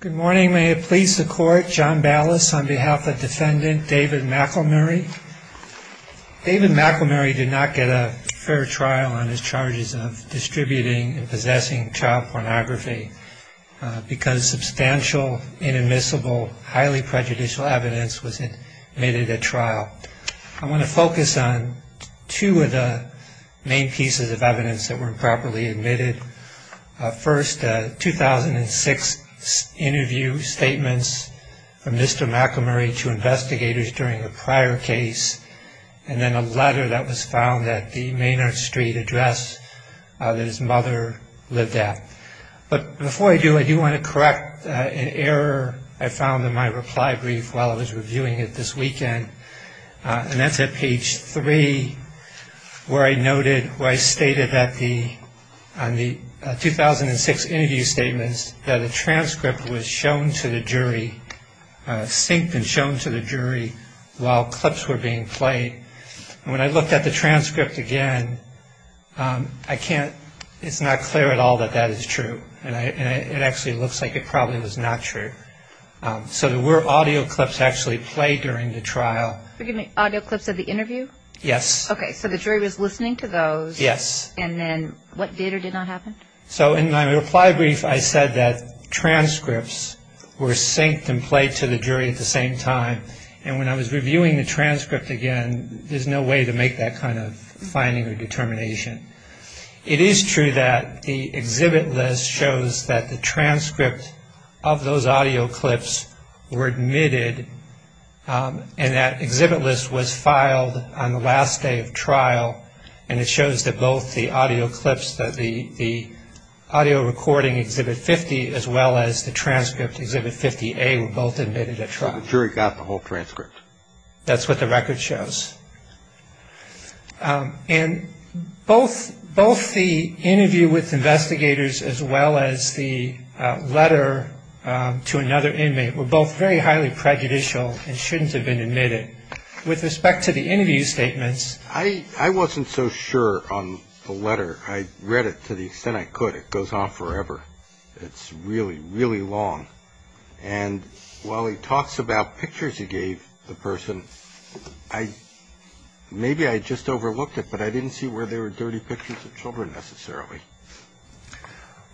Good morning. May it please the court, John Ballas on behalf of defendant David McElmurry. David McElmurry did not get a fair trial on his charges of distributing and possessing child pornography because substantial, inadmissible, highly prejudicial evidence was admitted at trial. I want to focus on two of the main pieces of evidence that were improperly admitted. First, 2006 interview statements from Mr. McElmurry to investigators during a prior case and then a letter that was found at the Maynard Street address that his mother lived at. But before I do, I do want to correct an error I found in my reply brief while I was reviewing it this weekend. And that's at page three where I noted, where I stated on the 2006 interview statements that a transcript was shown to the jury, synced and shown to the jury while clips were being played. When I looked at the transcript again, I can't, it's not clear at all that that is true. And it actually looks like it probably was not true. So there were audio clips actually played during the trial. Forgive me, audio clips of the interview? Yes. Okay, so the jury was listening to those. Yes. And then what did or did not happen? So in my reply brief, I said that transcripts were synced and played to the jury at the same time. And when I was reviewing the transcript again, there's no way to make that kind of finding or determination. It is true that the exhibit list shows that the transcript of those audio clips were admitted and that exhibit list was filed on the last day of trial. And it shows that both the audio clips, the audio recording, Exhibit 50, as well as the transcript, Exhibit 50A, were both admitted at trial. So the jury got the whole transcript? That's what the record shows. And both the interview with investigators as well as the letter to another inmate were both very highly prejudicial and shouldn't have been admitted. With respect to the interview statements, I wasn't so sure on the letter. I read it to the extent I could. It goes on forever. It's really, really long. And while he talks about pictures he gave the person, maybe I just overlooked it, but I didn't see where there were dirty pictures of children necessarily.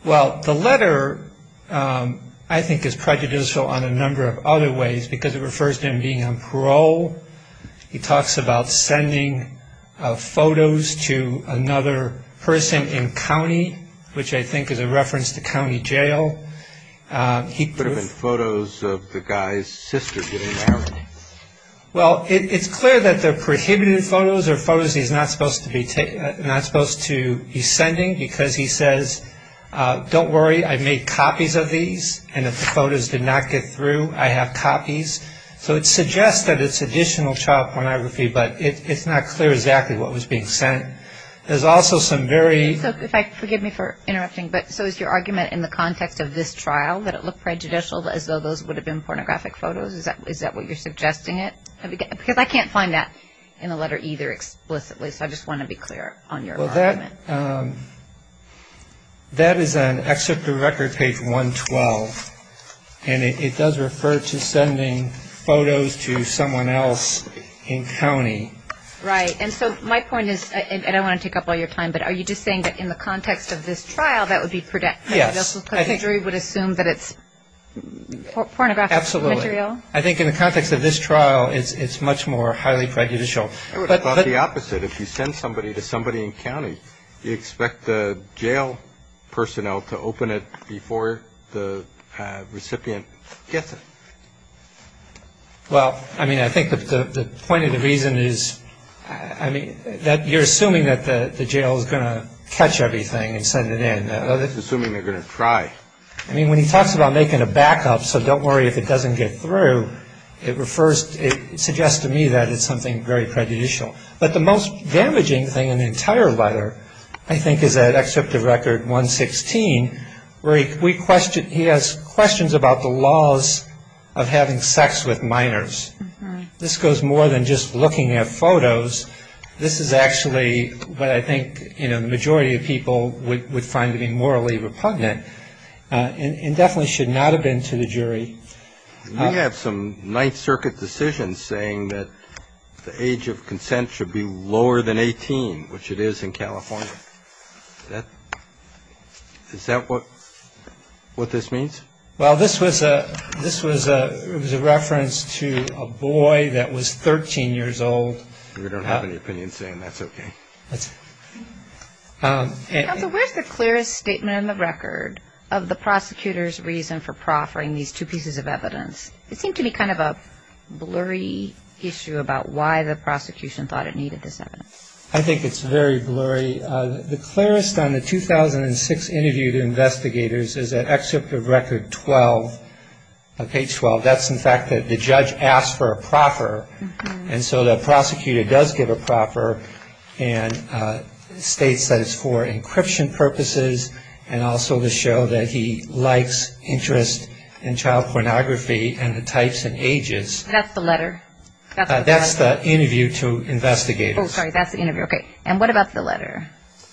Well, the letter I think is prejudicial on a number of other ways because it refers to him being on parole. He talks about sending photos to another person in county, which I think is a reference to county jail. Could have been photos of the guy's sister getting out. Well, it's clear that they're prohibited photos or photos he's not supposed to be sending because he says, don't worry, I've made copies of these, and if the photos did not get through, I have copies. So it suggests that it's additional child pornography, but it's not clear exactly what was being sent. There's also some very – So if I – forgive me for interrupting, but so is your argument in the context of this trial that it looked prejudicial as though those would have been pornographic photos? Is that what you're suggesting it? Because I can't find that in the letter either explicitly, so I just want to be clear on your argument. Well, that is on Excerpt to Record page 112, and it does refer to sending photos to someone else in county. Right. And so my point is – and I don't want to take up all your time, but are you just saying that in the context of this trial, that would be prejudicial? Yes. Contingency would assume that it's pornographic material? Absolutely. I think in the context of this trial, it's much more highly prejudicial. I would have thought the opposite. If you send somebody to somebody in county, you expect the jail personnel to open it before the recipient gets it. Well, I mean, I think the point of the reason is, I mean, that you're assuming that the jail is going to catch everything and send it in. I'm just assuming they're going to try. I mean, when he talks about making a backup so don't worry if it doesn't get through, it refers – it suggests to me that it's something very prejudicial. But the most damaging thing in the entire letter, I think, is that Excerpt to Record 116, where he has questions about the laws of having sex with minors. This goes more than just looking at photos. This is actually what I think the majority of people would find to be morally repugnant and definitely should not have been to the jury. We have some Ninth Circuit decisions saying that the age of consent should be lower than 18, which it is in California. Is that what this means? Well, this was a reference to a boy that was 13 years old. We don't have any opinions today and that's okay. Counsel, where is the clearest statement on the record of the prosecutor's reason for proffering these two pieces of evidence? It seemed to be kind of a blurry issue about why the prosecution thought it needed this evidence. I think it's very blurry. The clearest on the 2006 interview to investigators is at Excerpt to Record 12, page 12. That's, in fact, that the judge asked for a proffer, and so the prosecutor does give a proffer and states that it's for encryption purposes and also to show that he likes interest in child pornography and the types and ages. That's the letter? That's the interview to investigators. Oh, sorry, that's the interview. Okay. And what about the letter?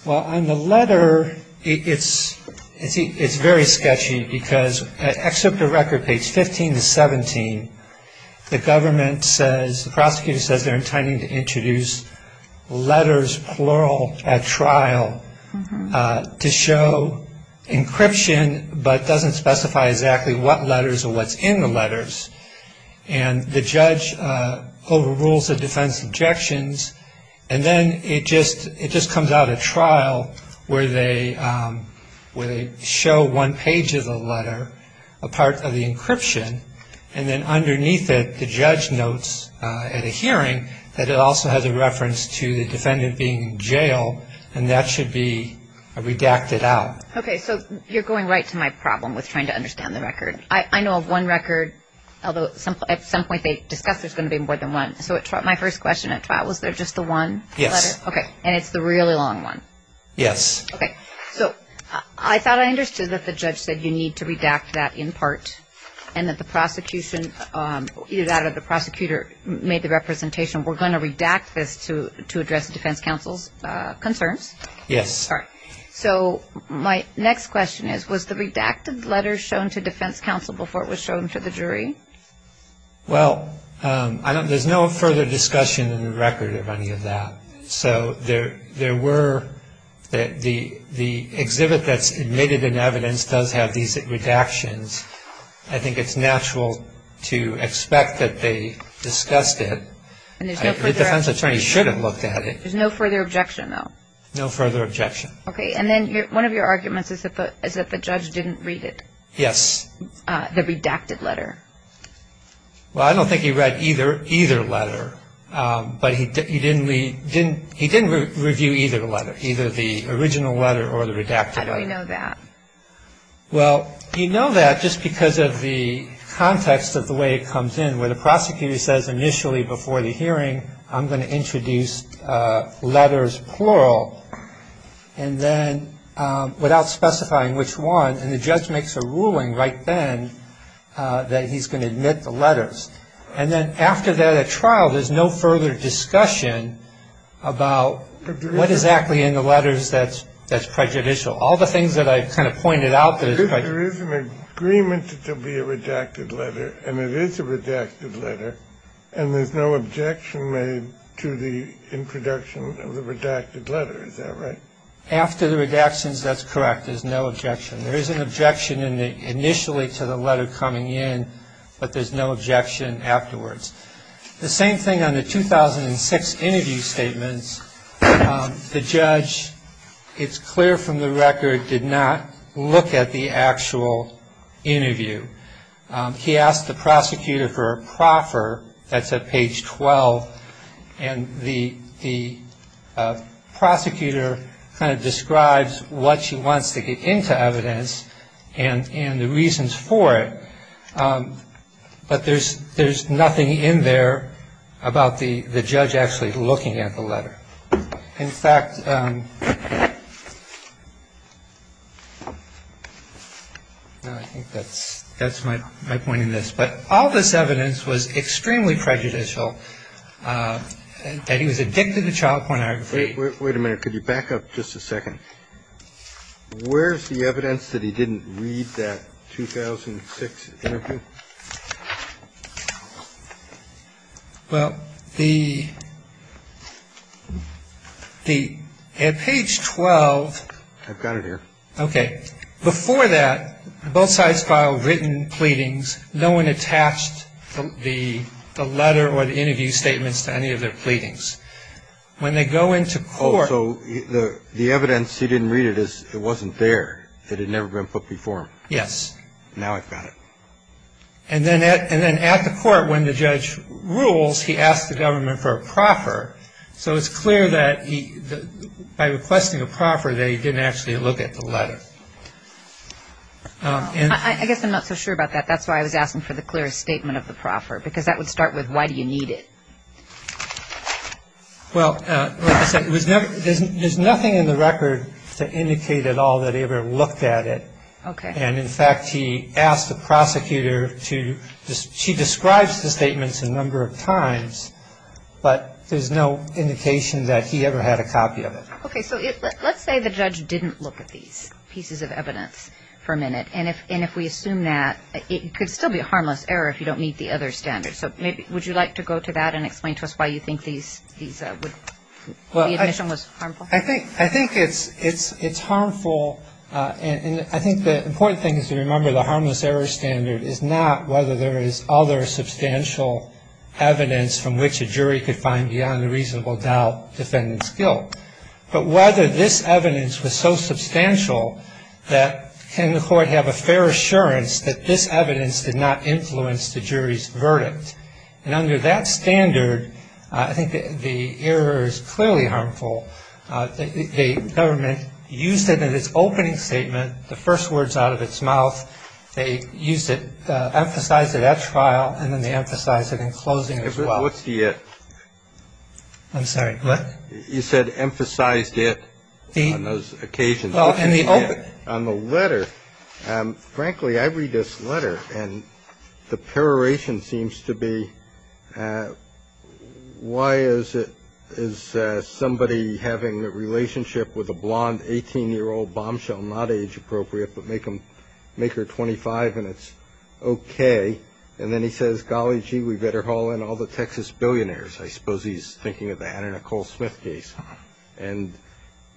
Well, on the letter, it's very sketchy because at Excerpt to Record, page 15 to 17, the government says, the prosecutor says they're intending to introduce letters, plural, at trial to show encryption but doesn't specify exactly what letters or what's in the letters. And the judge overrules the defense's objections, and then it just comes out at trial where they show one page of the letter, a part of the encryption, and then underneath it the judge notes at a hearing that it also has a reference to the defendant being in jail, and that should be redacted out. Okay, so you're going right to my problem with trying to understand the record. I know of one record, although at some point they discussed there's going to be more than one. So my first question at trial, was there just the one letter? Yes. Okay, and it's the really long one? Yes. Okay. So I thought I understood that the judge said you need to redact that in part and that the prosecution, either that or the prosecutor made the representation, we're going to redact this to address the defense counsel's concerns. Yes. Sorry. So my next question is, was the redacted letter shown to defense counsel before it was shown to the jury? Well, there's no further discussion in the record of any of that. So there were the exhibit that's admitted in evidence does have these redactions. I think it's natural to expect that they discussed it. The defense attorney should have looked at it. There's no further objection, though? No further objection. Okay. And then one of your arguments is that the judge didn't read it? Yes. The redacted letter? Well, I don't think he read either letter, but he didn't review either letter, either the original letter or the redacted letter. How do we know that? Well, you know that just because of the context of the way it comes in, where the prosecutor says initially before the hearing I'm going to introduce letters plural and then without specifying which one. And the judge makes a ruling right then that he's going to admit the letters. And then after that trial, there's no further discussion about what exactly in the letters that's prejudicial. All the things that I kind of pointed out that it's prejudicial. There is an agreement to be a redacted letter, and it is a redacted letter, and there's no objection made to the introduction of the redacted letter. Is that right? After the redactions, that's correct. There's no objection. There is an objection initially to the letter coming in, but there's no objection afterwards. The same thing on the 2006 interview statements. The judge, it's clear from the record, did not look at the actual interview. He asked the prosecutor for a proffer. That's at page 12. And the prosecutor kind of describes what she wants to get into evidence and the reasons for it. But there's there's nothing in there about the the judge actually looking at the letter. In fact, I think that's that's my my point in this. But all this evidence was extremely prejudicial. And he was addicted to child pornography. Wait a minute. Could you back up just a second? Where's the evidence that he didn't read that 2006 interview? Well, the at page 12. I've got it here. Okay. Before that, both sides filed written pleadings. No one attached the letter or the interview statements to any of their pleadings. When they go into court. So the evidence he didn't read, it wasn't there. It had never been put before him. Yes. Now I've got it. And then at the court when the judge rules, he asked the government for a proffer. So it's clear that by requesting a proffer that he didn't actually look at the letter. I guess I'm not so sure about that. That's why I was asking for the clearest statement of the proffer, because that would start with why do you need it? Well, like I said, there's nothing in the record to indicate at all that he ever looked at it. Okay. And, in fact, he asked the prosecutor to, she describes the statements a number of times, but there's no indication that he ever had a copy of it. Okay. So let's say the judge didn't look at these pieces of evidence for a minute. And if we assume that, it could still be a harmless error if you don't meet the other standards. So would you like to go to that and explain to us why you think the admission was harmful? I think it's harmful. And I think the important thing is to remember the harmless error standard is not whether there is other substantial evidence from which a jury could find beyond a reasonable doubt defendant's guilt, but whether this evidence was so substantial that can the court have a fair assurance that this evidence did not influence the jury's verdict. And under that standard, I think the error is clearly harmful. The government used it in its opening statement, the first words out of its mouth. They used it, emphasized it at trial, and then they emphasized it in closing as well. What's the it? I'm sorry, what? You said emphasized it on those occasions. On the letter, frankly, I read this letter and the peroration seems to be why is it is somebody having a relationship with a blonde 18-year-old bombshell, not age appropriate, but make her 25 and it's okay. And then he says, golly gee, we better haul in all the Texas billionaires. I suppose he's thinking of that in a Cole Smith case. And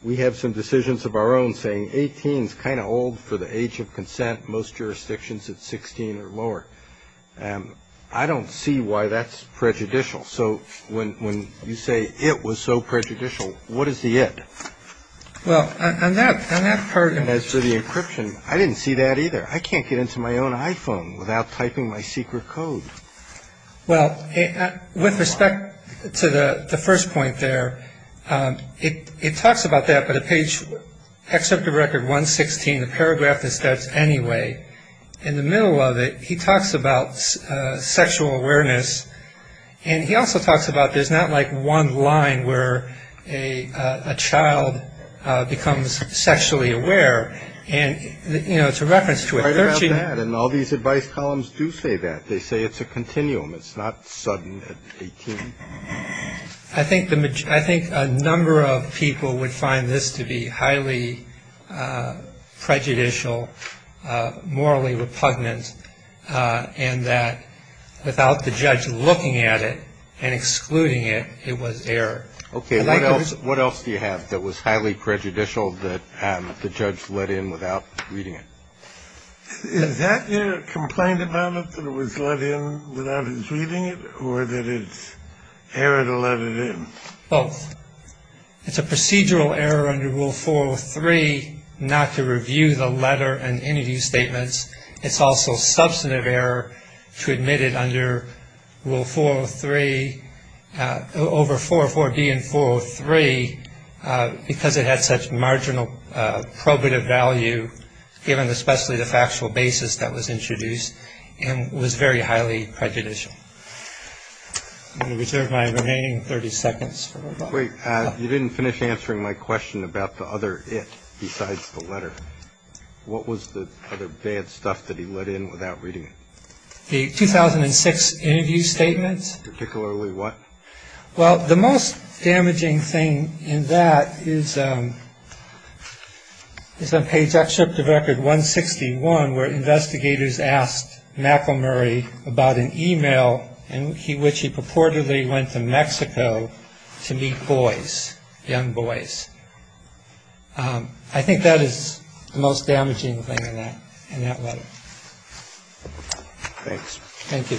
we have some decisions of our own saying 18 is kind of old for the age of consent. Most jurisdictions it's 16 or lower. I don't see why that's prejudicial. So when you say it was so prejudicial, what is the it? Well, on that part of it. As for the encryption, I didn't see that either. I can't get into my own iPhone without typing my secret code. Well, with respect to the first point there, it talks about that. But a page except the record 116, the paragraph that starts anyway. In the middle of it, he talks about sexual awareness. And he also talks about there's not like one line where a child becomes sexually aware. And, you know, it's a reference to it. And all these advice columns do say that. They say it's a continuum. It's not sudden at 18. I think a number of people would find this to be highly prejudicial, morally repugnant, and that without the judge looking at it and excluding it, it was error. Okay. What else do you have that was highly prejudicial that the judge let in without reading it? Is that your complaint about it, that it was let in without his reading it, or that it's error to let it in? Both. It's a procedural error under Rule 403 not to review the letter and interview statements. It's also substantive error to admit it under Rule 403, over 404D and 403, because it had such marginal probative value given especially the factual basis that was introduced and was very highly prejudicial. I'm going to reserve my remaining 30 seconds. Wait. You didn't finish answering my question about the other it besides the letter. What was the other bad stuff that he let in without reading it? The 2006 interview statements. Particularly what? Well, the most damaging thing in that is on page 161 where investigators asked McElmurry about an e-mail in which he purportedly went to Mexico to meet boys, young boys. I think that is the most damaging thing in that letter. Thanks. Thank you.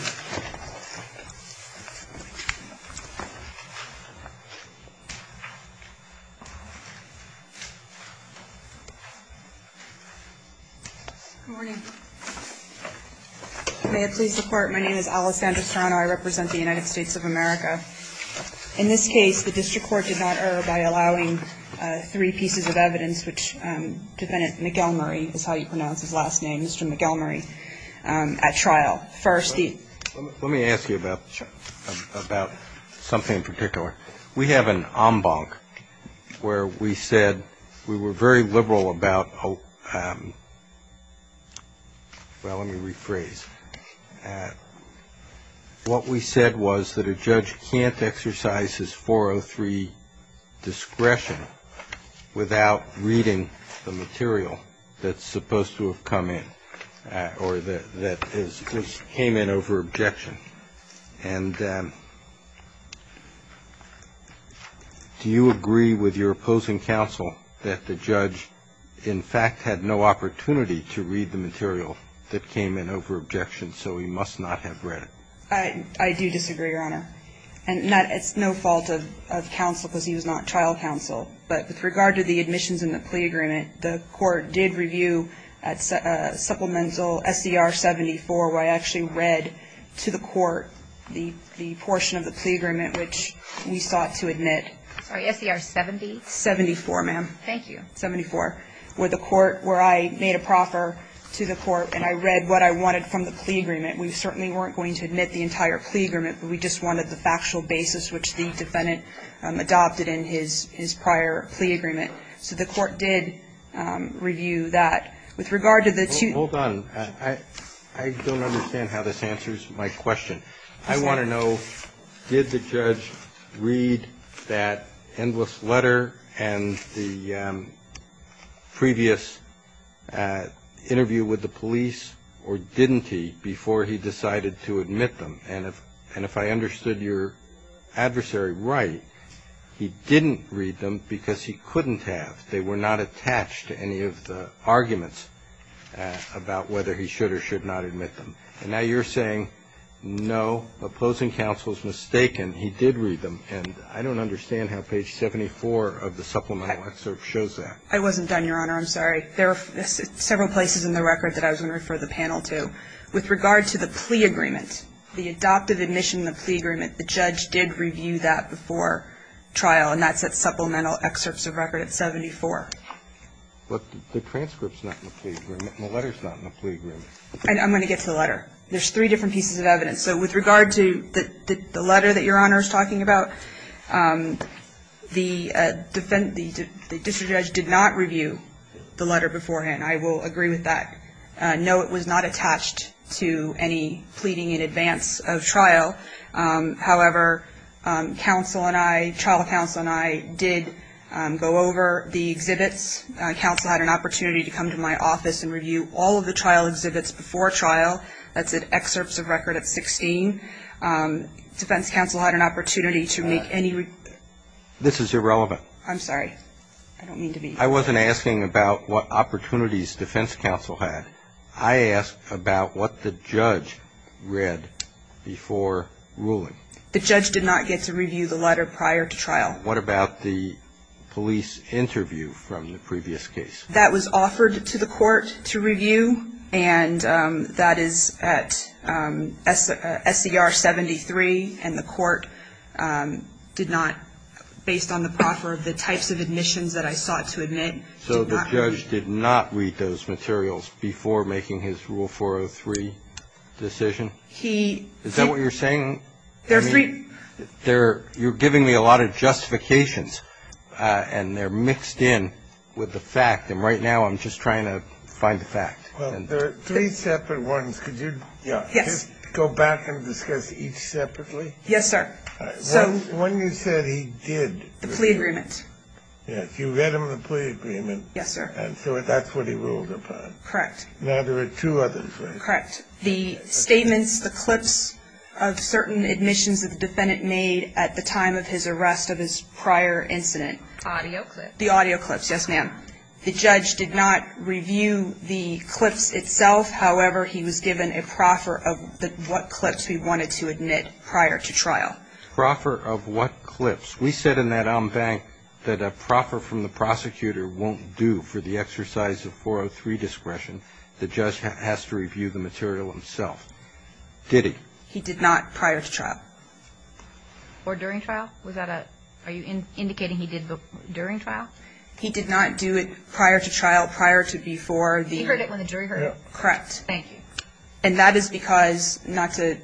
Good morning. May it please the Court, my name is Alessandra Strano. I represent the United States of America. In this case, the district court did not err by allowing three pieces of evidence, which Defendant McElmurry is how you pronounce his last name, Mr. McElmurry, at trial. First, the. Let me ask you about something in particular. We have an en banc where we said we were very liberal about, well, let me rephrase. What we said was that a judge can't exercise his 403 discretion without reading the material that's supposed to have come in or that came in over objection. And do you agree with your opposing counsel that the judge, in fact, had no opportunity to read the material that came in over objection, so he must not have read it? I do disagree, Your Honor. And it's no fault of counsel because he was not trial counsel. But with regard to the admissions and the plea agreement, the court did review a supplemental S.E.R. 74 where I actually read to the court the portion of the plea agreement which we sought to admit. Sorry, S.E.R. 70? 74, ma'am. Thank you. 74, where I made a proffer to the court and I read what I wanted from the plea agreement. We certainly weren't going to admit the entire plea agreement, but we just wanted the factual basis which the defendant adopted in his prior plea agreement. So the court did review that. With regard to the two ---- Hold on. I don't understand how this answers my question. I want to know, did the judge read that endless letter and the previous interview with the police or didn't he before he decided to admit them? And if I understood your adversary right, he didn't read them because he couldn't have. They were not attached to any of the arguments about whether he should or should not admit them. And now you're saying, no, opposing counsel is mistaken. He did read them. And I don't understand how page 74 of the supplemental excerpt shows that. I wasn't done, Your Honor. I'm sorry. There are several places in the record that I was going to refer the panel to. With regard to the plea agreement, the adoptive admission in the plea agreement, the judge did review that before trial, and that's at supplemental excerpts of record at 74. But the transcript's not in the plea agreement and the letter's not in the plea agreement. I'm going to get to the letter. There's three different pieces of evidence. So with regard to the letter that Your Honor is talking about, the defense ---- the district judge did not review the letter beforehand. I will agree with that. No, it was not attached to any pleading in advance of trial. However, counsel and I, trial counsel and I did go over the exhibits. Counsel had an opportunity to come to my office and review all of the trial exhibits before trial. That's at excerpts of record at 16. Defense counsel had an opportunity to make any ---- This is irrelevant. I'm sorry. I don't mean to be ---- I wasn't asking about what opportunities defense counsel had. I asked about what the judge read before ruling. The judge did not get to review the letter prior to trial. What about the police interview from the previous case? That was offered to the court to review, and that is at SCR 73, and the court did not, based on the proffer of the types of admissions that I sought to admit, did not ---- So the judge did not read those materials before making his Rule 403 decision? He ---- Is that what you're saying? There are three ---- You're giving me a lot of justifications, and they're mixed in with the fact. And right now I'm just trying to find the fact. Well, there are three separate ones. Could you ---- Yes. Could you just go back and discuss each separately? Yes, sir. When you said he did ---- The plea agreement. Yes. You read him the plea agreement. Yes, sir. And so that's what he ruled upon. Correct. Now there are two others, right? Correct. The statements, the clips of certain admissions that the defendant made at the time of his arrest of his prior incident. Audio clips. The audio clips, yes, ma'am. The judge did not review the clips itself. However, he was given a proffer of what clips he wanted to admit prior to trial. Proffer of what clips? We said in that en banc that a proffer from the prosecutor won't do for the exercise of 403 discretion. The judge has to review the material himself. Did he? He did not prior to trial. Or during trial? Was that a ---- Are you indicating he did during trial? He did not do it prior to trial, prior to, before the ---- He heard it when the jury heard it. Correct. Thank you. And that is because, not to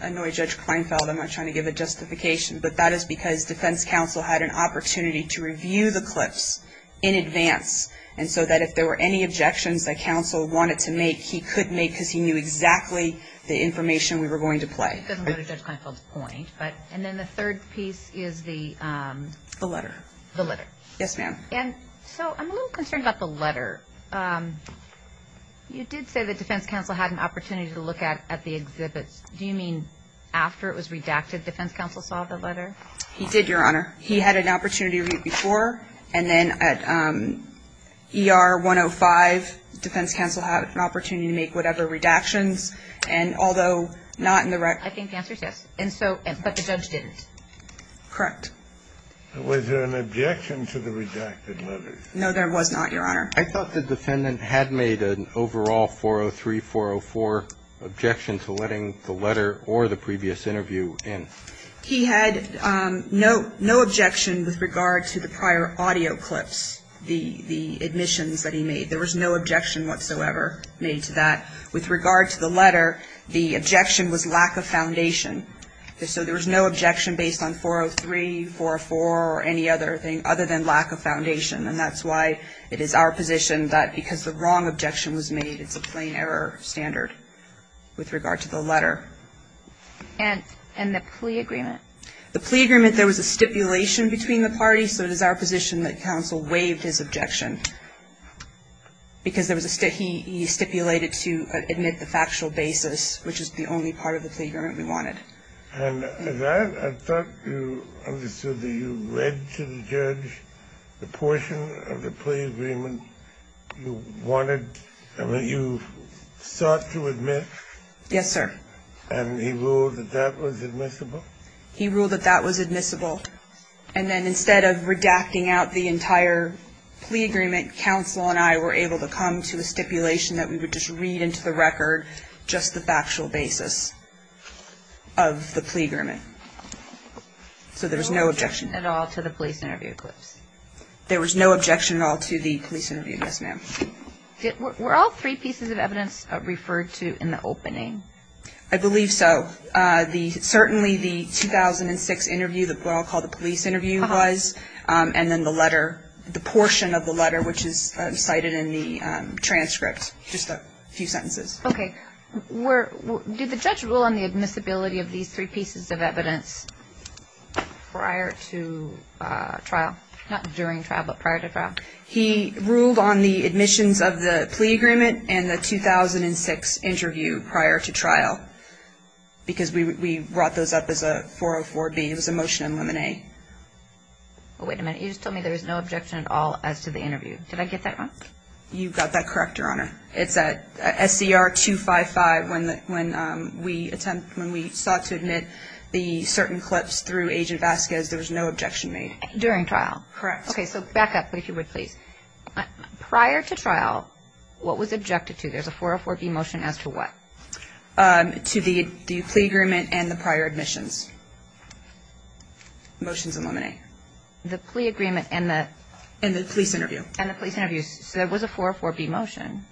annoy Judge Kleinfeld, I'm not trying to give a justification, but that is because defense counsel had an opportunity to review the clips in advance, and so that if there were any objections that counsel wanted to make, he could make because he knew exactly the information we were going to play. It doesn't go to Judge Kleinfeld's point, but ---- And then the third piece is the ---- The letter. The letter. Yes, ma'am. And so I'm a little concerned about the letter. You did say that defense counsel had an opportunity to look at the exhibits. Do you mean after it was redacted, defense counsel saw the letter? He did, Your Honor. He had an opportunity to review it before, and then at ER 105, defense counsel had an opportunity to make whatever redactions, and although not in the ---- I think the answer is yes. And so, but the judge didn't. Correct. Was there an objection to the redacted letter? No, there was not, Your Honor. I thought the defendant had made an overall 403, 404 objection to letting the letter or the previous interview in. He had no objection with regard to the prior audio clips, the admissions that he made. There was no objection whatsoever made to that. With regard to the letter, the objection was lack of foundation. So there was no objection based on 403, 404 or any other thing other than lack of foundation, and that's why it is our position that because the wrong objection was made, it's a plain error standard with regard to the letter. And the plea agreement? The plea agreement, there was a stipulation between the parties, so it is our position that counsel waived his objection because there was a ---- And he stipulated to admit the factual basis, which is the only part of the plea agreement we wanted. And that, I thought you understood that you read to the judge the portion of the plea agreement you wanted, I mean, you sought to admit. Yes, sir. And he ruled that that was admissible? He ruled that that was admissible. And then instead of redacting out the entire plea agreement, counsel and I were able to come to a stipulation that we would just read into the record just the factual basis of the plea agreement. So there was no objection at all to the police interview clips? There was no objection at all to the police interview, yes, ma'am. Were all three pieces of evidence referred to in the opening? I believe so. Certainly the 2006 interview, what I'll call the police interview was, and then the letter, the portion of the letter, which is cited in the transcript, just a few sentences. Okay. Did the judge rule on the admissibility of these three pieces of evidence prior to trial? Not during trial, but prior to trial? He ruled on the admissions of the plea agreement and the 2006 interview prior to trial, because we brought those up as a 404B. It was a motion in limine. Wait a minute. You just told me there was no objection at all as to the interview. Did I get that right? You got that correct, Your Honor. It's at SCR 255 when we sought to admit the certain clips through Agent Vasquez. There was no objection made. During trial? Correct. Okay, so back up, if you would, please. Prior to trial, what was objected to? There's a 404B motion as to what? To the plea agreement and the prior admissions. Motions in limine. The plea agreement and the? And the police interview. And the police interview. So there was a 404B motion,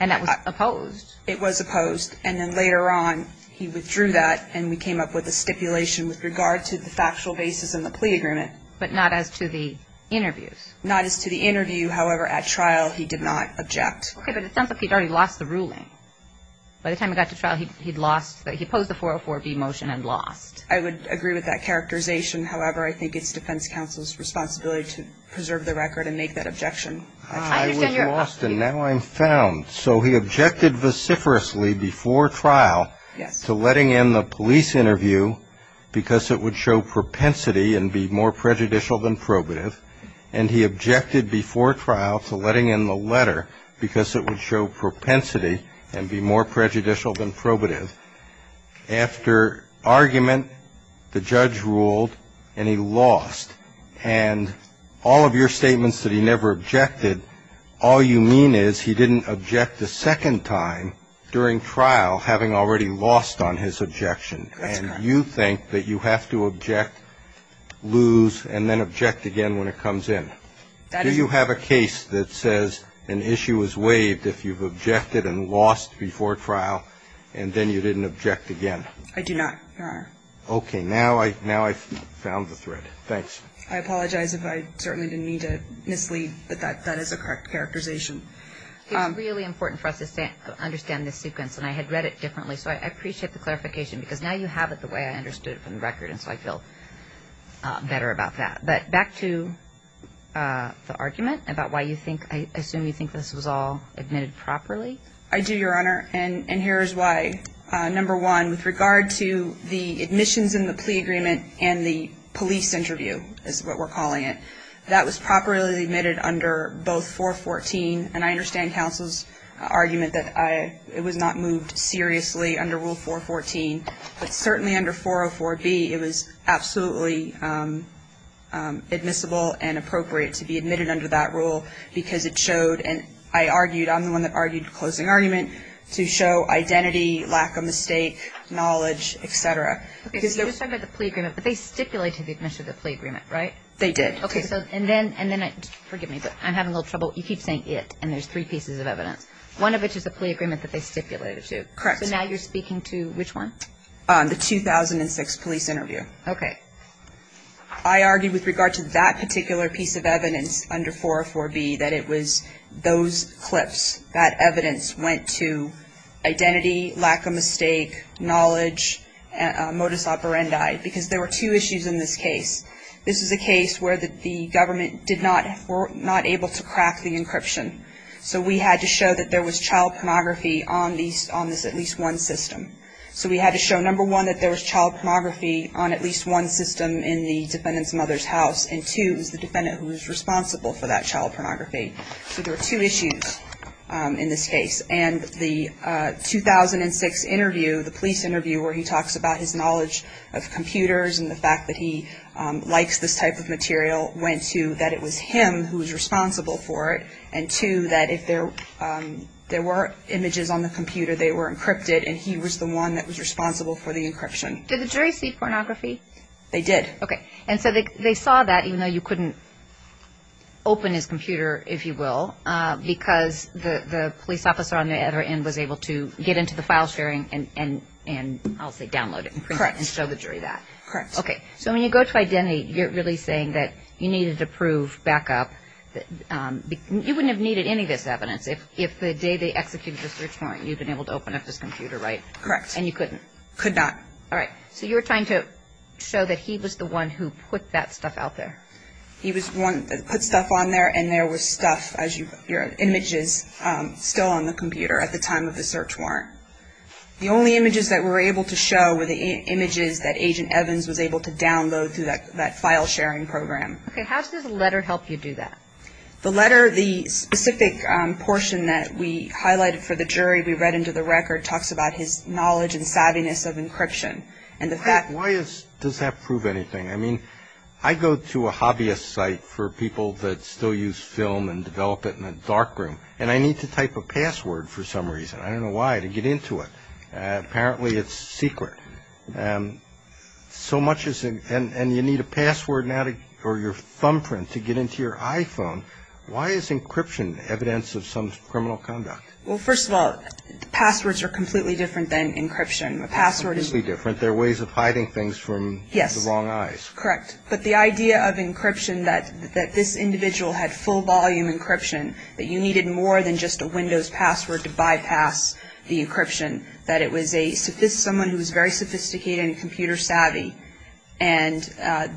and that was opposed. It was opposed, and then later on he withdrew that, and we came up with a stipulation with regard to the factual basis in the plea agreement. But not as to the interviews? Not as to the interview. However, at trial, he did not object. Okay, but it sounds like he'd already lost the ruling. By the time he got to trial, he'd lost the 404B motion and lost. I would agree with that characterization. However, I think it's defense counsel's responsibility to preserve the record and make that objection. I was lost, and now I'm found. So he objected vociferously before trial to letting in the police interview because it would show propensity and be more prejudicial than probative. And he objected before trial to letting in the letter because it would show propensity and be more prejudicial than probative. After argument, the judge ruled, and he lost. And all of your statements that he never objected, all you mean is he didn't object a second time during trial, having already lost on his objection. That's correct. And you think that you have to object, lose, and then object again when it comes in. Do you have a case that says an issue is waived if you've objected and lost before trial, and then you didn't object again? I do not, Your Honor. Okay. Now I've found the thread. Thanks. I apologize if I certainly didn't mean to mislead, but that is a correct characterization. It's really important for us to understand this sequence, and I had read it differently, so I appreciate the clarification because now you have it the way I understood it from the record, and so I feel better about that. But back to the argument about why you think, I assume you think this was all admitted properly. I do, Your Honor, and here is why. Number one, with regard to the admissions and the plea agreement and the police interview, is what we're calling it, that was properly admitted under both 414, and I understand counsel's argument that it was not moved seriously under Rule 414, but certainly under 404B it was absolutely admissible and appropriate to be admitted under that rule because it showed, and I argued, I'm the one that argued the closing argument, to show identity, lack of mistake, knowledge, et cetera. Okay. So you're talking about the plea agreement, but they stipulated the admission of the plea agreement, right? They did. Okay. And then, forgive me, but I'm having a little trouble. You keep saying it, and there's three pieces of evidence. One of it is the plea agreement that they stipulated, too. Correct. So now you're speaking to which one? The 2006 police interview. Okay. I argued with regard to that particular piece of evidence under 404B, that it was those clips, that evidence went to identity, lack of mistake, knowledge, modus operandi, because there were two issues in this case. This is a case where the government were not able to crack the encryption, so we had to show that there was child pornography on this at least one system. So we had to show, number one, that there was child pornography on at least one system in the defendant's mother's house, and, two, it was the defendant who was responsible for that child pornography. So there were two issues in this case. And the 2006 interview, the police interview, where he talks about his knowledge of computers and the fact that he likes this type of material, went to that it was him who was responsible for it, and, two, that if there were images on the computer, they were encrypted, and he was the one that was responsible for the encryption. Did the jury see pornography? They did. Okay. And so they saw that, even though you couldn't open his computer, if you will, because the police officer on the other end was able to get into the file sharing and, I'll say, download it. Correct. And show the jury that. Correct. Okay. So when you go to identity, you're really saying that you needed to prove backup. You wouldn't have needed any of this evidence if the day they executed the search warrant, you'd been able to open up his computer, right? Correct. And you couldn't? Could not. All right. So you were trying to show that he was the one who put that stuff out there. He was the one that put stuff on there, and there was stuff, your images still on the computer at the time of the search warrant. The only images that we were able to show were the images that Agent Evans was able to download through that file sharing program. Okay. How does the letter help you do that? The letter, the specific portion that we highlighted for the jury, we read into the record, talks about his knowledge and savviness of encryption. Why does that prove anything? I mean, I go to a hobbyist site for people that still use film and develop it in a dark room, and I need to type a password for some reason. I don't know why, to get into it. Apparently, it's secret. So much as, and you need a password or your thumbprint to get into your iPhone. Why is encryption evidence of some criminal conduct? Well, first of all, passwords are completely different than encryption. A password is different. They're ways of hiding things from the wrong eyes. Correct. But the idea of encryption, that this individual had full-volume encryption, that you needed more than just a Windows password to bypass the encryption, that it was someone who was very sophisticated and computer savvy, and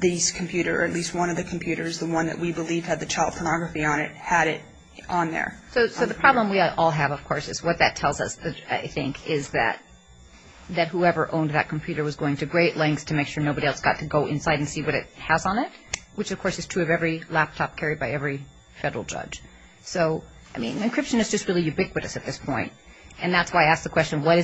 these computers, or at least one of the computers, the one that we believe had the child pornography on it, had it on there. So the problem we all have, of course, is what that tells us, I think, is that whoever owned that computer was going to great lengths to make sure nobody else got to go inside and see what it has on it, which, of course, is true of every laptop carried by every federal judge. So, I mean, encryption is just really ubiquitous at this point, and that's why I asked the question, why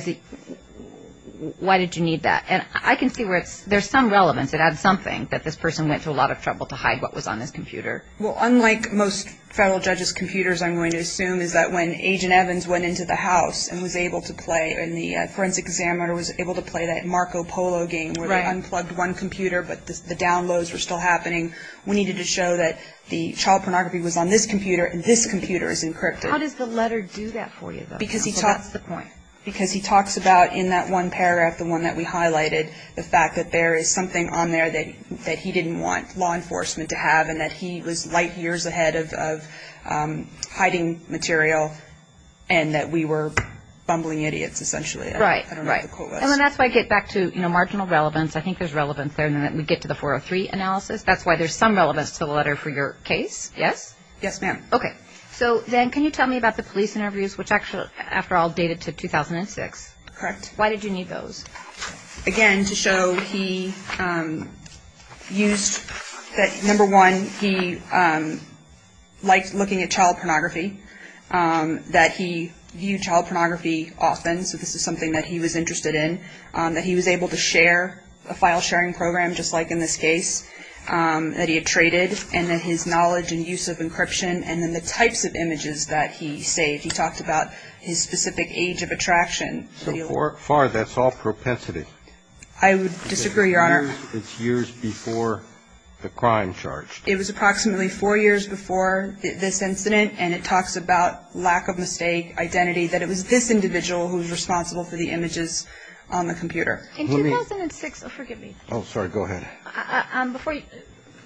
did you need that? And I can see where there's some relevance. It adds something that this person went through a lot of trouble to hide what was on this computer. Well, unlike most federal judges' computers, I'm going to assume is that when Agent Evans went into the house and was able to play, and the forensic examiner was able to play that Marco Polo game where they unplugged one computer, but the downloads were still happening, we needed to show that the child pornography was on this computer and this computer is encrypted. How does the letter do that for you, though? Because he talks about in that one paragraph, the one that we highlighted, the fact that there is something on there that he didn't want law enforcement to have and that he was light years ahead of hiding material and that we were bumbling idiots, essentially. Right. I don't know what the quote was. And that's why I get back to marginal relevance. I think there's relevance there. And then we get to the 403 analysis. That's why there's some relevance to the letter for your case. Yes? Yes, ma'am. Okay. So then can you tell me about the police interviews, which actually, after all, dated to 2006? Correct. Why did you need those? Again, to show he used that, number one, he liked looking at child pornography, that he viewed child pornography often, so this is something that he was interested in, that he was able to share a file-sharing program, just like in this case, that he had traded, and then his knowledge and use of encryption, and then the types of images that he saved. He talked about his specific age of attraction. So far, that's all propensity. I would disagree, Your Honor. It's years before the crime charge. It was approximately four years before this incident, and it talks about lack of mistake identity, that it was this individual who was responsible for the images on the computer. In 2006, forgive me. Oh, sorry. Go ahead.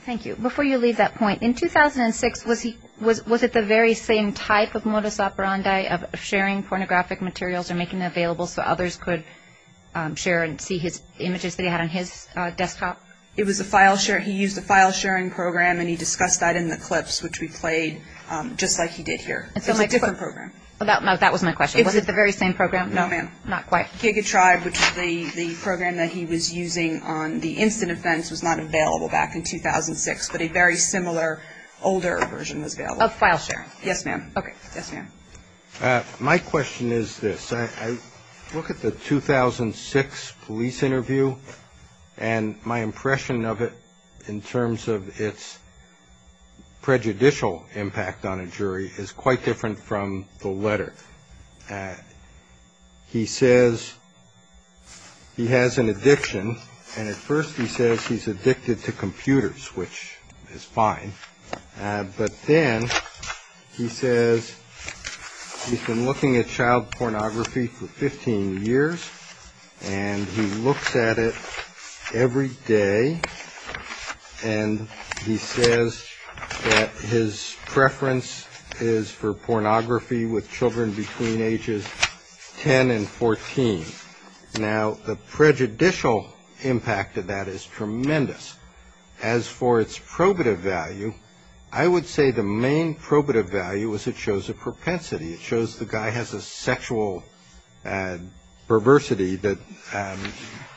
Thank you. Before you leave that point, in 2006, was it the very same type of modus operandi of sharing pornographic materials and making them available so others could share and see images that he had on his desktop? It was a file-sharing. He used a file-sharing program, and he discussed that in the clips, which we played, just like he did here. It's a different program. No, that was my question. Was it the very same program? No, ma'am. Not quite. Giga Tribe, which is the program that he was using on the incident fence, was not available back in 2006, but a very similar older version was available. Oh, file-sharing. Yes, ma'am. Okay. Yes, ma'am. My question is this. I look at the 2006 police interview, and my impression of it in terms of its prejudicial impact on a jury is quite different from the letter. He says he has an addiction, and at first he says he's addicted to computers, which is fine. But then he says he's been looking at child pornography for 15 years, and he looks at it every day, and he says that his preference is for pornography with children between ages 10 and 14. Now, the prejudicial impact of that is tremendous. As for its probative value, I would say the main probative value is it shows a propensity. It shows the guy has a sexual perversity that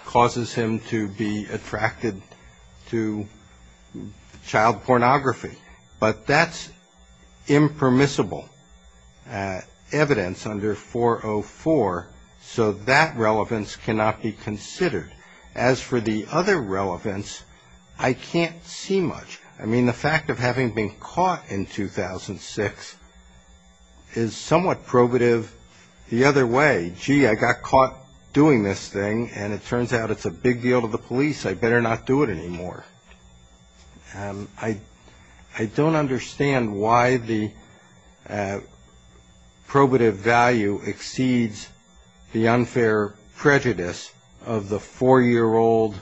causes him to be attracted to child pornography. But that's impermissible evidence under 404, so that relevance cannot be considered. As for the other relevance, I can't see much. I mean, the fact of having been caught in 2006 is somewhat probative the other way. Gee, I got caught doing this thing, and it turns out it's a big deal to the police. I better not do it anymore. I don't understand why the probative value exceeds the unfair prejudice of the four-year-old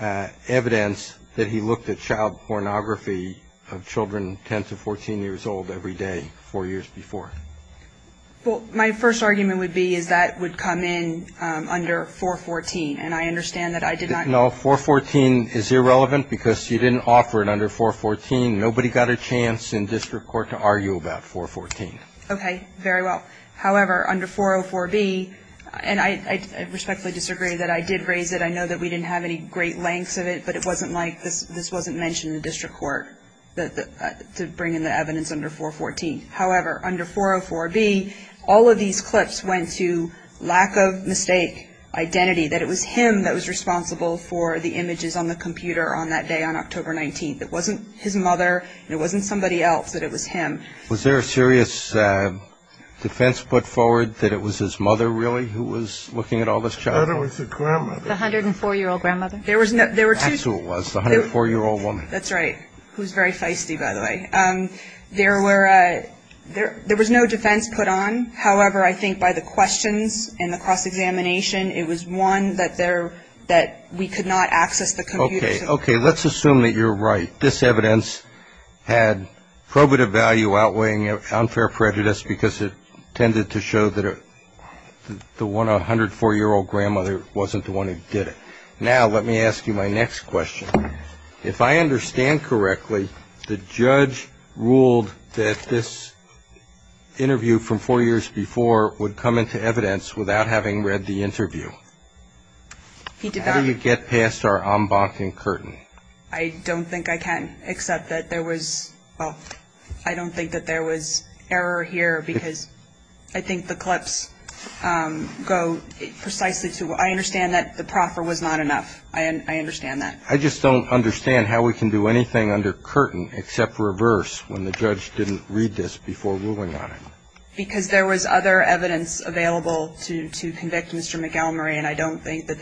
evidence that he looked at child pornography of children 10 to 14 years old every day four years before. Well, my first argument would be is that would come in under 414, and I understand that I did not. No, 414 is irrelevant because you didn't offer it under 414. Nobody got a chance in district court to argue about 414. Okay. Very well. However, under 404b, and I respectfully disagree that I did raise it. I know that we didn't have any great lengths of it, but it wasn't like this wasn't mentioned in district court to bring in the evidence under 414. However, under 404b, all of these clips went to lack of mistake identity, that it was him that was responsible for the images on the computer on that day on October 19th. It wasn't his mother, and it wasn't somebody else, that it was him. Was there a serious defense put forward that it was his mother, really, who was looking at all this child pornography? The 104-year-old grandmother. That's who it was, the 104-year-old woman. That's right, who's very feisty, by the way. There were no defense put on. However, I think by the questions and the cross-examination, it was one that we could not access the computer. Okay. Okay. Let's assume that you're right. This evidence had probative value outweighing unfair prejudice because it tended to show that the 104-year-old grandmother wasn't the one who did it. Now, let me ask you my next question. If I understand correctly, the judge ruled that this interview from four years before would come into evidence without having read the interview. He did not. How do you get past our en banc and curtain? I don't think I can, except that there was, well, I don't think that there was error here because I think the clips go precisely to where I understand that the proffer was not enough. I understand that. I just don't understand how we can do anything under curtain except reverse when the judge didn't read this before ruling on it. Because there was other evidence available to convict Mr. McElmurry, and I don't think that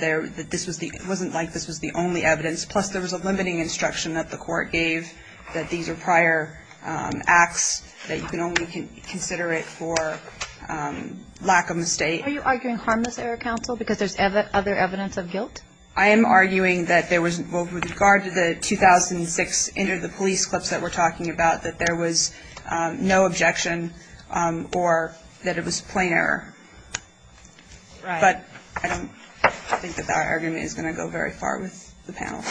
this was the, it wasn't like this was the only evidence. Plus, there was a limiting instruction that the court gave that these are prior acts, that you can only consider it for lack of mistake. Are you arguing harmless error, counsel, because there's other evidence of guilt? I am arguing that there was, well, with regard to the 2006 inter the police clips that we're talking about, that there was no objection or that it was plain error. Right. But I don't think that that argument is going to go very far with the panel.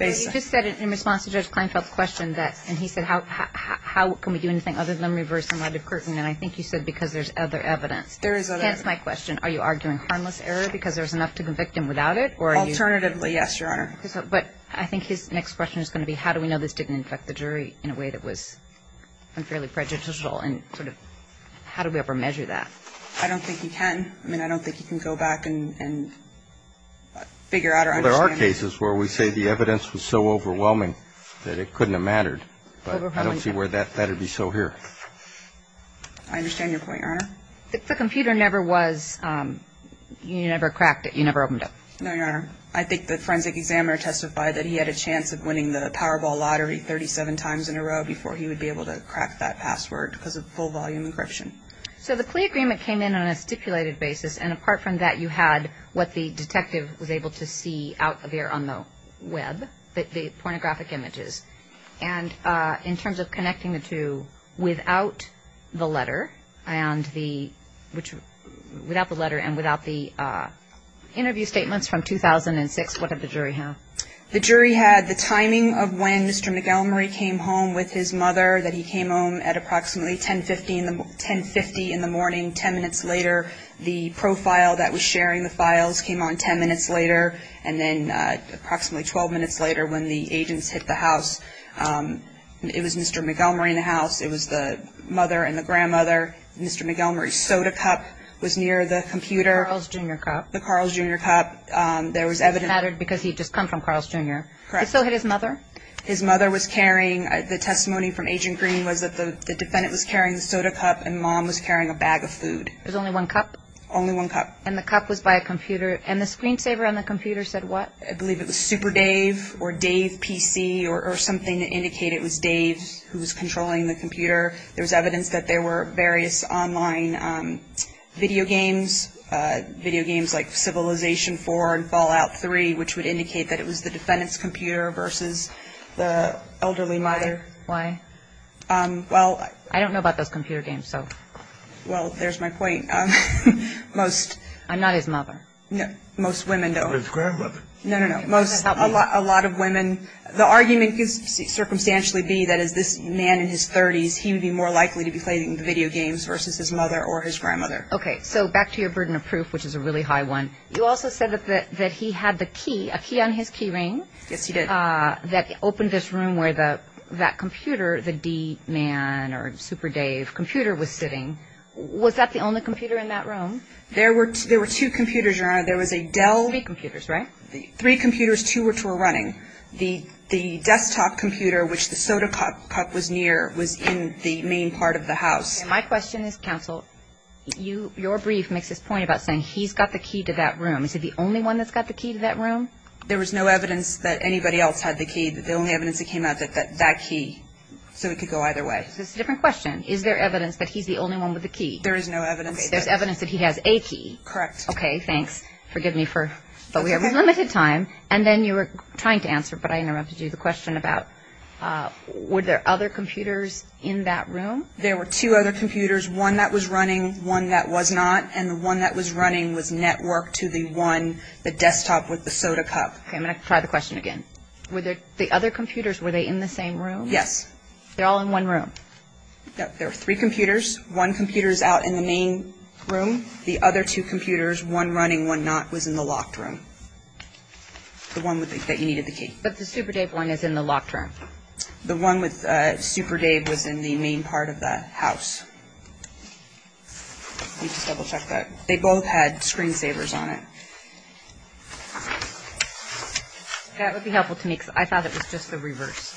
You just said in response to Judge Kleinfeld's question that, and he said, how can we do anything other than reverse in light of curtain? And I think you said because there's other evidence. That's my question. Are you arguing harmless error because there's enough to convict him without it, or are you? Alternatively, yes, Your Honor. But I think his next question is going to be how do we know this didn't affect the jury in a way that was unfairly prejudicial and sort of how do we ever measure that? I don't think you can. I mean, I don't think you can go back and figure out or understand it. Well, there are cases where we say the evidence was so overwhelming that it couldn't have mattered. But I don't see where that would be so here. I understand your point, Your Honor. The computer never was, you never cracked it, you never opened it. No, Your Honor. I think the forensic examiner testified that he had a chance of winning the Powerball Lottery 37 times in a row before he would be able to crack that password because of full-volume encryption. So the Klee agreement came in on a stipulated basis, and apart from that you had what the detective was able to see out there on the Web, the pornographic images. And in terms of connecting the two, without the letter and without the interview statements from 2006, what did the jury have? The jury had the timing of when Mr. McElmurray came home with his mother, that he came home at approximately 10.50 in the morning, 10 minutes later. The profile that was sharing the files came on 10 minutes later, and then approximately 12 minutes later when the agents hit the house, it was Mr. McElmurray in the house. It was the mother and the grandmother. Mr. McElmurray's soda cup was near the computer. Carl's Jr. cup. The Carl's Jr. cup. There was evidence. It mattered because he had just come from Carl's Jr. Correct. It still hit his mother? His mother was carrying, the testimony from Agent Green was that the defendant was carrying the soda cup and mom was carrying a bag of food. There was only one cup? Only one cup. And the cup was by a computer, and the screensaver on the computer said what? I believe it was Super Dave or Dave PC or something to indicate it was Dave who was controlling the computer. There was evidence that there were various online video games, video games like Civilization IV and Fallout 3, which would indicate that it was the defendant's computer versus the elderly mother. Why? Well. I don't know about those computer games, so. Well, there's my point. Most. I'm not his mother. No. Most women don't. I'm his grandmother. No, no, no. Most, a lot of women. The argument could circumstantially be that as this man in his 30s, he would be more likely to be playing the video games versus his mother or his grandmother. Okay. So back to your burden of proof, which is a really high one. You also said that he had the key, a key on his key ring. Yes, he did. That opened this room where that computer, the D man or Super Dave computer was sitting. Was that the only computer in that room? There were two computers, Your Honor. There was a Dell. Three computers, right? Three computers, two which were running. The desktop computer, which the soda cup was near, was in the main part of the house. My question is, counsel, your brief makes this point about saying he's got the key to that room. Is it the only one that's got the key to that room? There was no evidence that anybody else had the key. The only evidence that came out was that key. So it could go either way. So it's a different question. Is there evidence that he's the only one with the key? There is no evidence. There's evidence that he has a key? Correct. Okay. Thanks. Forgive me, but we have limited time. And then you were trying to answer, but I interrupted you, the question about were there other computers in that room? There were two other computers, one that was running, one that was not. And the one that was running was networked to the one, the desktop with the soda cup. Okay. I'm going to try the question again. The other computers, were they in the same room? Yes. They're all in one room? Yes. There were three computers. One computer is out in the main room. The other two computers, one running, one not, was in the locked room, the one that you needed the key. But the Super Dave one is in the locked room? The one with Super Dave was in the main part of the house. Let me just double check that. They both had screen savers on it. That would be helpful to me because I thought it was just the reverse.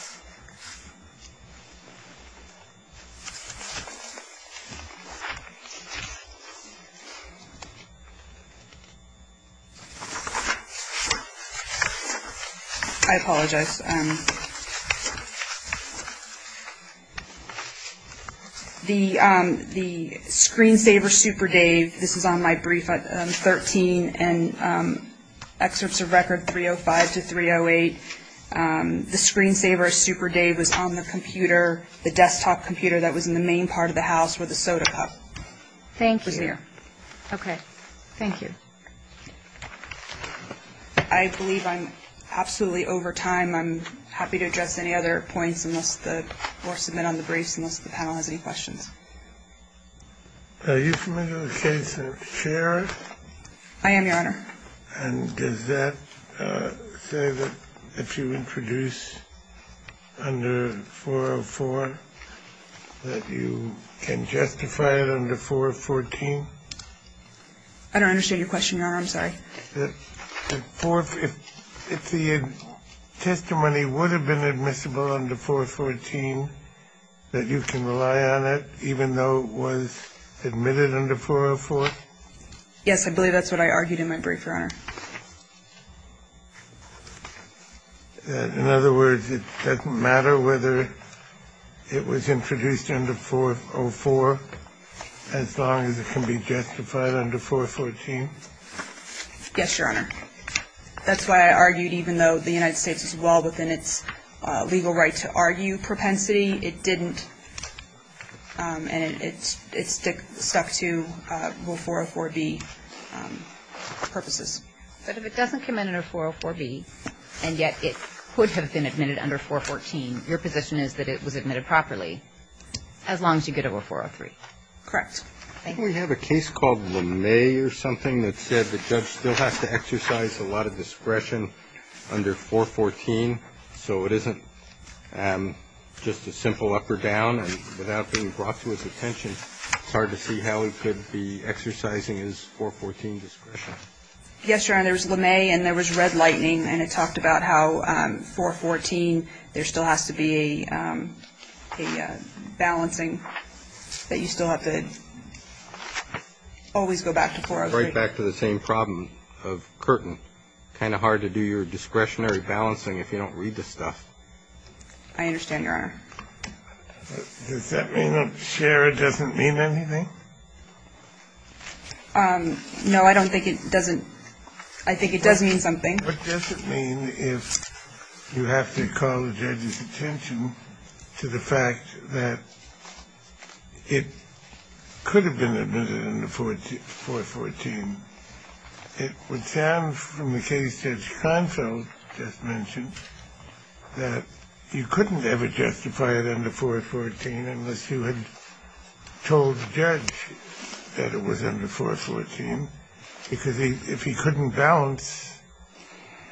I apologize. The screen saver Super Dave, this is on my brief, 13, and excerpts of record 305 to 308. The screen saver Super Dave was on the computer, the desktop computer that was in the main part of the house with the soda cup. Thank you. It was there. Okay. Thank you. I believe I'm absolutely over time. I'm happy to address any other points or submit on the briefs unless the panel has any questions. Are you familiar with the case of Sharer? I am, Your Honor. And does that say that if you introduce under 404 that you can justify it under 414? I don't understand your question, Your Honor. I'm sorry. If the testimony would have been admissible under 414, that you can rely on it even though it was admitted under 404? Yes, I believe that's what I argued in my brief, Your Honor. In other words, it doesn't matter whether it was introduced under 404 as long as it can be justified under 414? Yes, Your Honor. That's why I argued even though the United States was well within its legal right to argue propensity, it didn't. And it stuck to 404B purposes. But if it doesn't come in under 404B and yet it could have been admitted under 414, your position is that it was admitted properly as long as you get over 403? Correct. Thank you. We have a case called LeMay or something that said the judge still has to exercise a lot of discretion under 414, so it isn't just a simple up or down. And without being brought to his attention, it's hard to see how he could be exercising his 414 discretion. Yes, Your Honor. There was LeMay and there was red lightning, and it talked about how 414, there still has to be a balancing that you still have to always go back to 403. Right back to the same problem of Curtin. It's kind of hard to do your discretionary balancing if you don't read the stuff. I understand, Your Honor. Does that mean that Shera doesn't mean anything? No, I don't think it doesn't. I think it does mean something. What does it mean if you have to call the judge's attention to the fact that it could have been admitted under 414? It would sound, from the case Judge Kahnfeld just mentioned, that you couldn't ever justify it under 414 unless you had told the judge that it was under 414, because if he couldn't balance,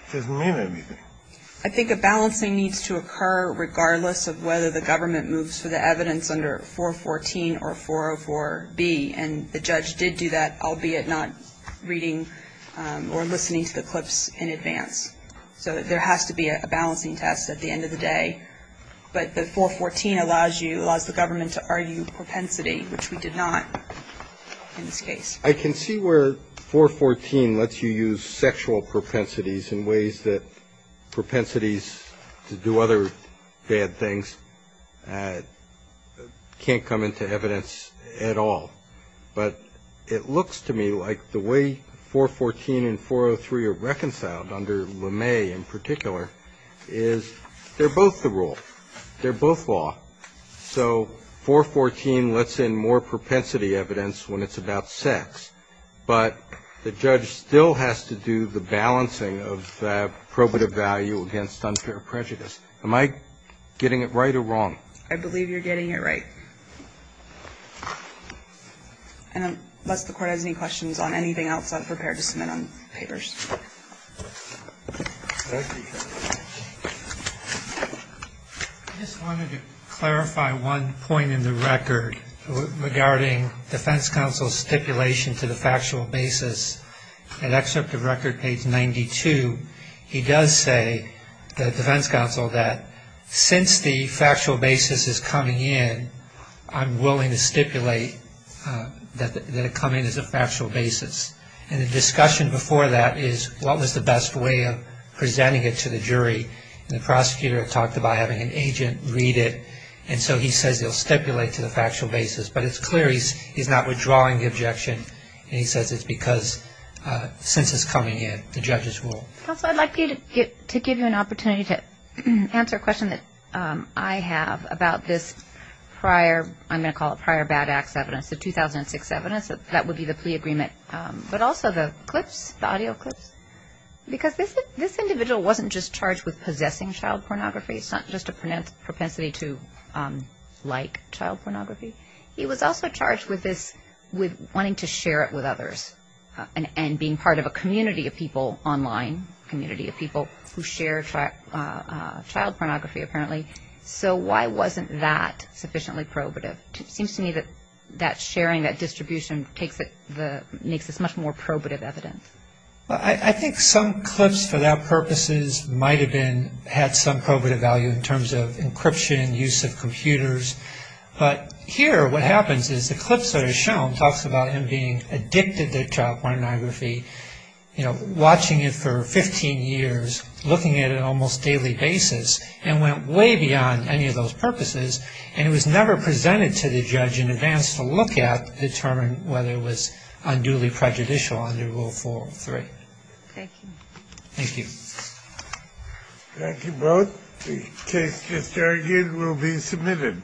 it doesn't mean anything. I think a balancing needs to occur regardless of whether the government moves for the evidence under 414 or 404B. And the judge did do that, albeit not reading or listening to the clips in advance. So there has to be a balancing test at the end of the day. But the 414 allows you, allows the government to argue propensity, which we did not in this case. I can see where 414 lets you use sexual propensities in ways that propensities to do other bad things can't come into evidence at all. But it looks to me like the way 414 and 403 are reconciled under LeMay in particular is they're both the rule. They're both law. So 414 lets in more propensity evidence when it's about sex, but the judge still has to do the balancing of probative value against unfair prejudice. Am I getting it right or wrong? I believe you're getting it right. And unless the Court has any questions on anything else, I'm prepared to submit on papers. Thank you. I just wanted to clarify one point in the record regarding defense counsel's stipulation to the factual basis. In Excerpt of Record, page 92, he does say, the defense counsel, that since the factual basis is coming in, I'm willing to stipulate that it come in as a factual basis. And the discussion before that is what was the best way of presenting it to the jury. And the prosecutor talked about having an agent read it, and so he says he'll stipulate to the factual basis. But it's clear he's not withdrawing the objection, and he says it's because since it's coming in, the judges rule. Counsel, I'd like to give you an opportunity to answer a question that I have about this prior, I'm going to call it prior bad acts evidence, the 2006 evidence. That would be the plea agreement. But also the clips, the audio clips, because this individual wasn't just charged with possessing child pornography. It's not just a propensity to like child pornography. He was also charged with this, with wanting to share it with others, and being part of a community of people online, a community of people who share child pornography, apparently. So why wasn't that sufficiently probative? It seems to me that that sharing, that distribution, makes this much more probative evidence. I think some clips for that purposes might have been, had some probative value in terms of encryption, use of computers. But here what happens is the clips that are shown talks about him being addicted to child pornography, watching it for 15 years, looking at it on an almost daily basis, and went way beyond any of those purposes. And it was never presented to the judge in advance to look at, determine whether it was unduly prejudicial under Rule 4.3. Thank you. Thank you. Thank you both. The case disargued will be submitted.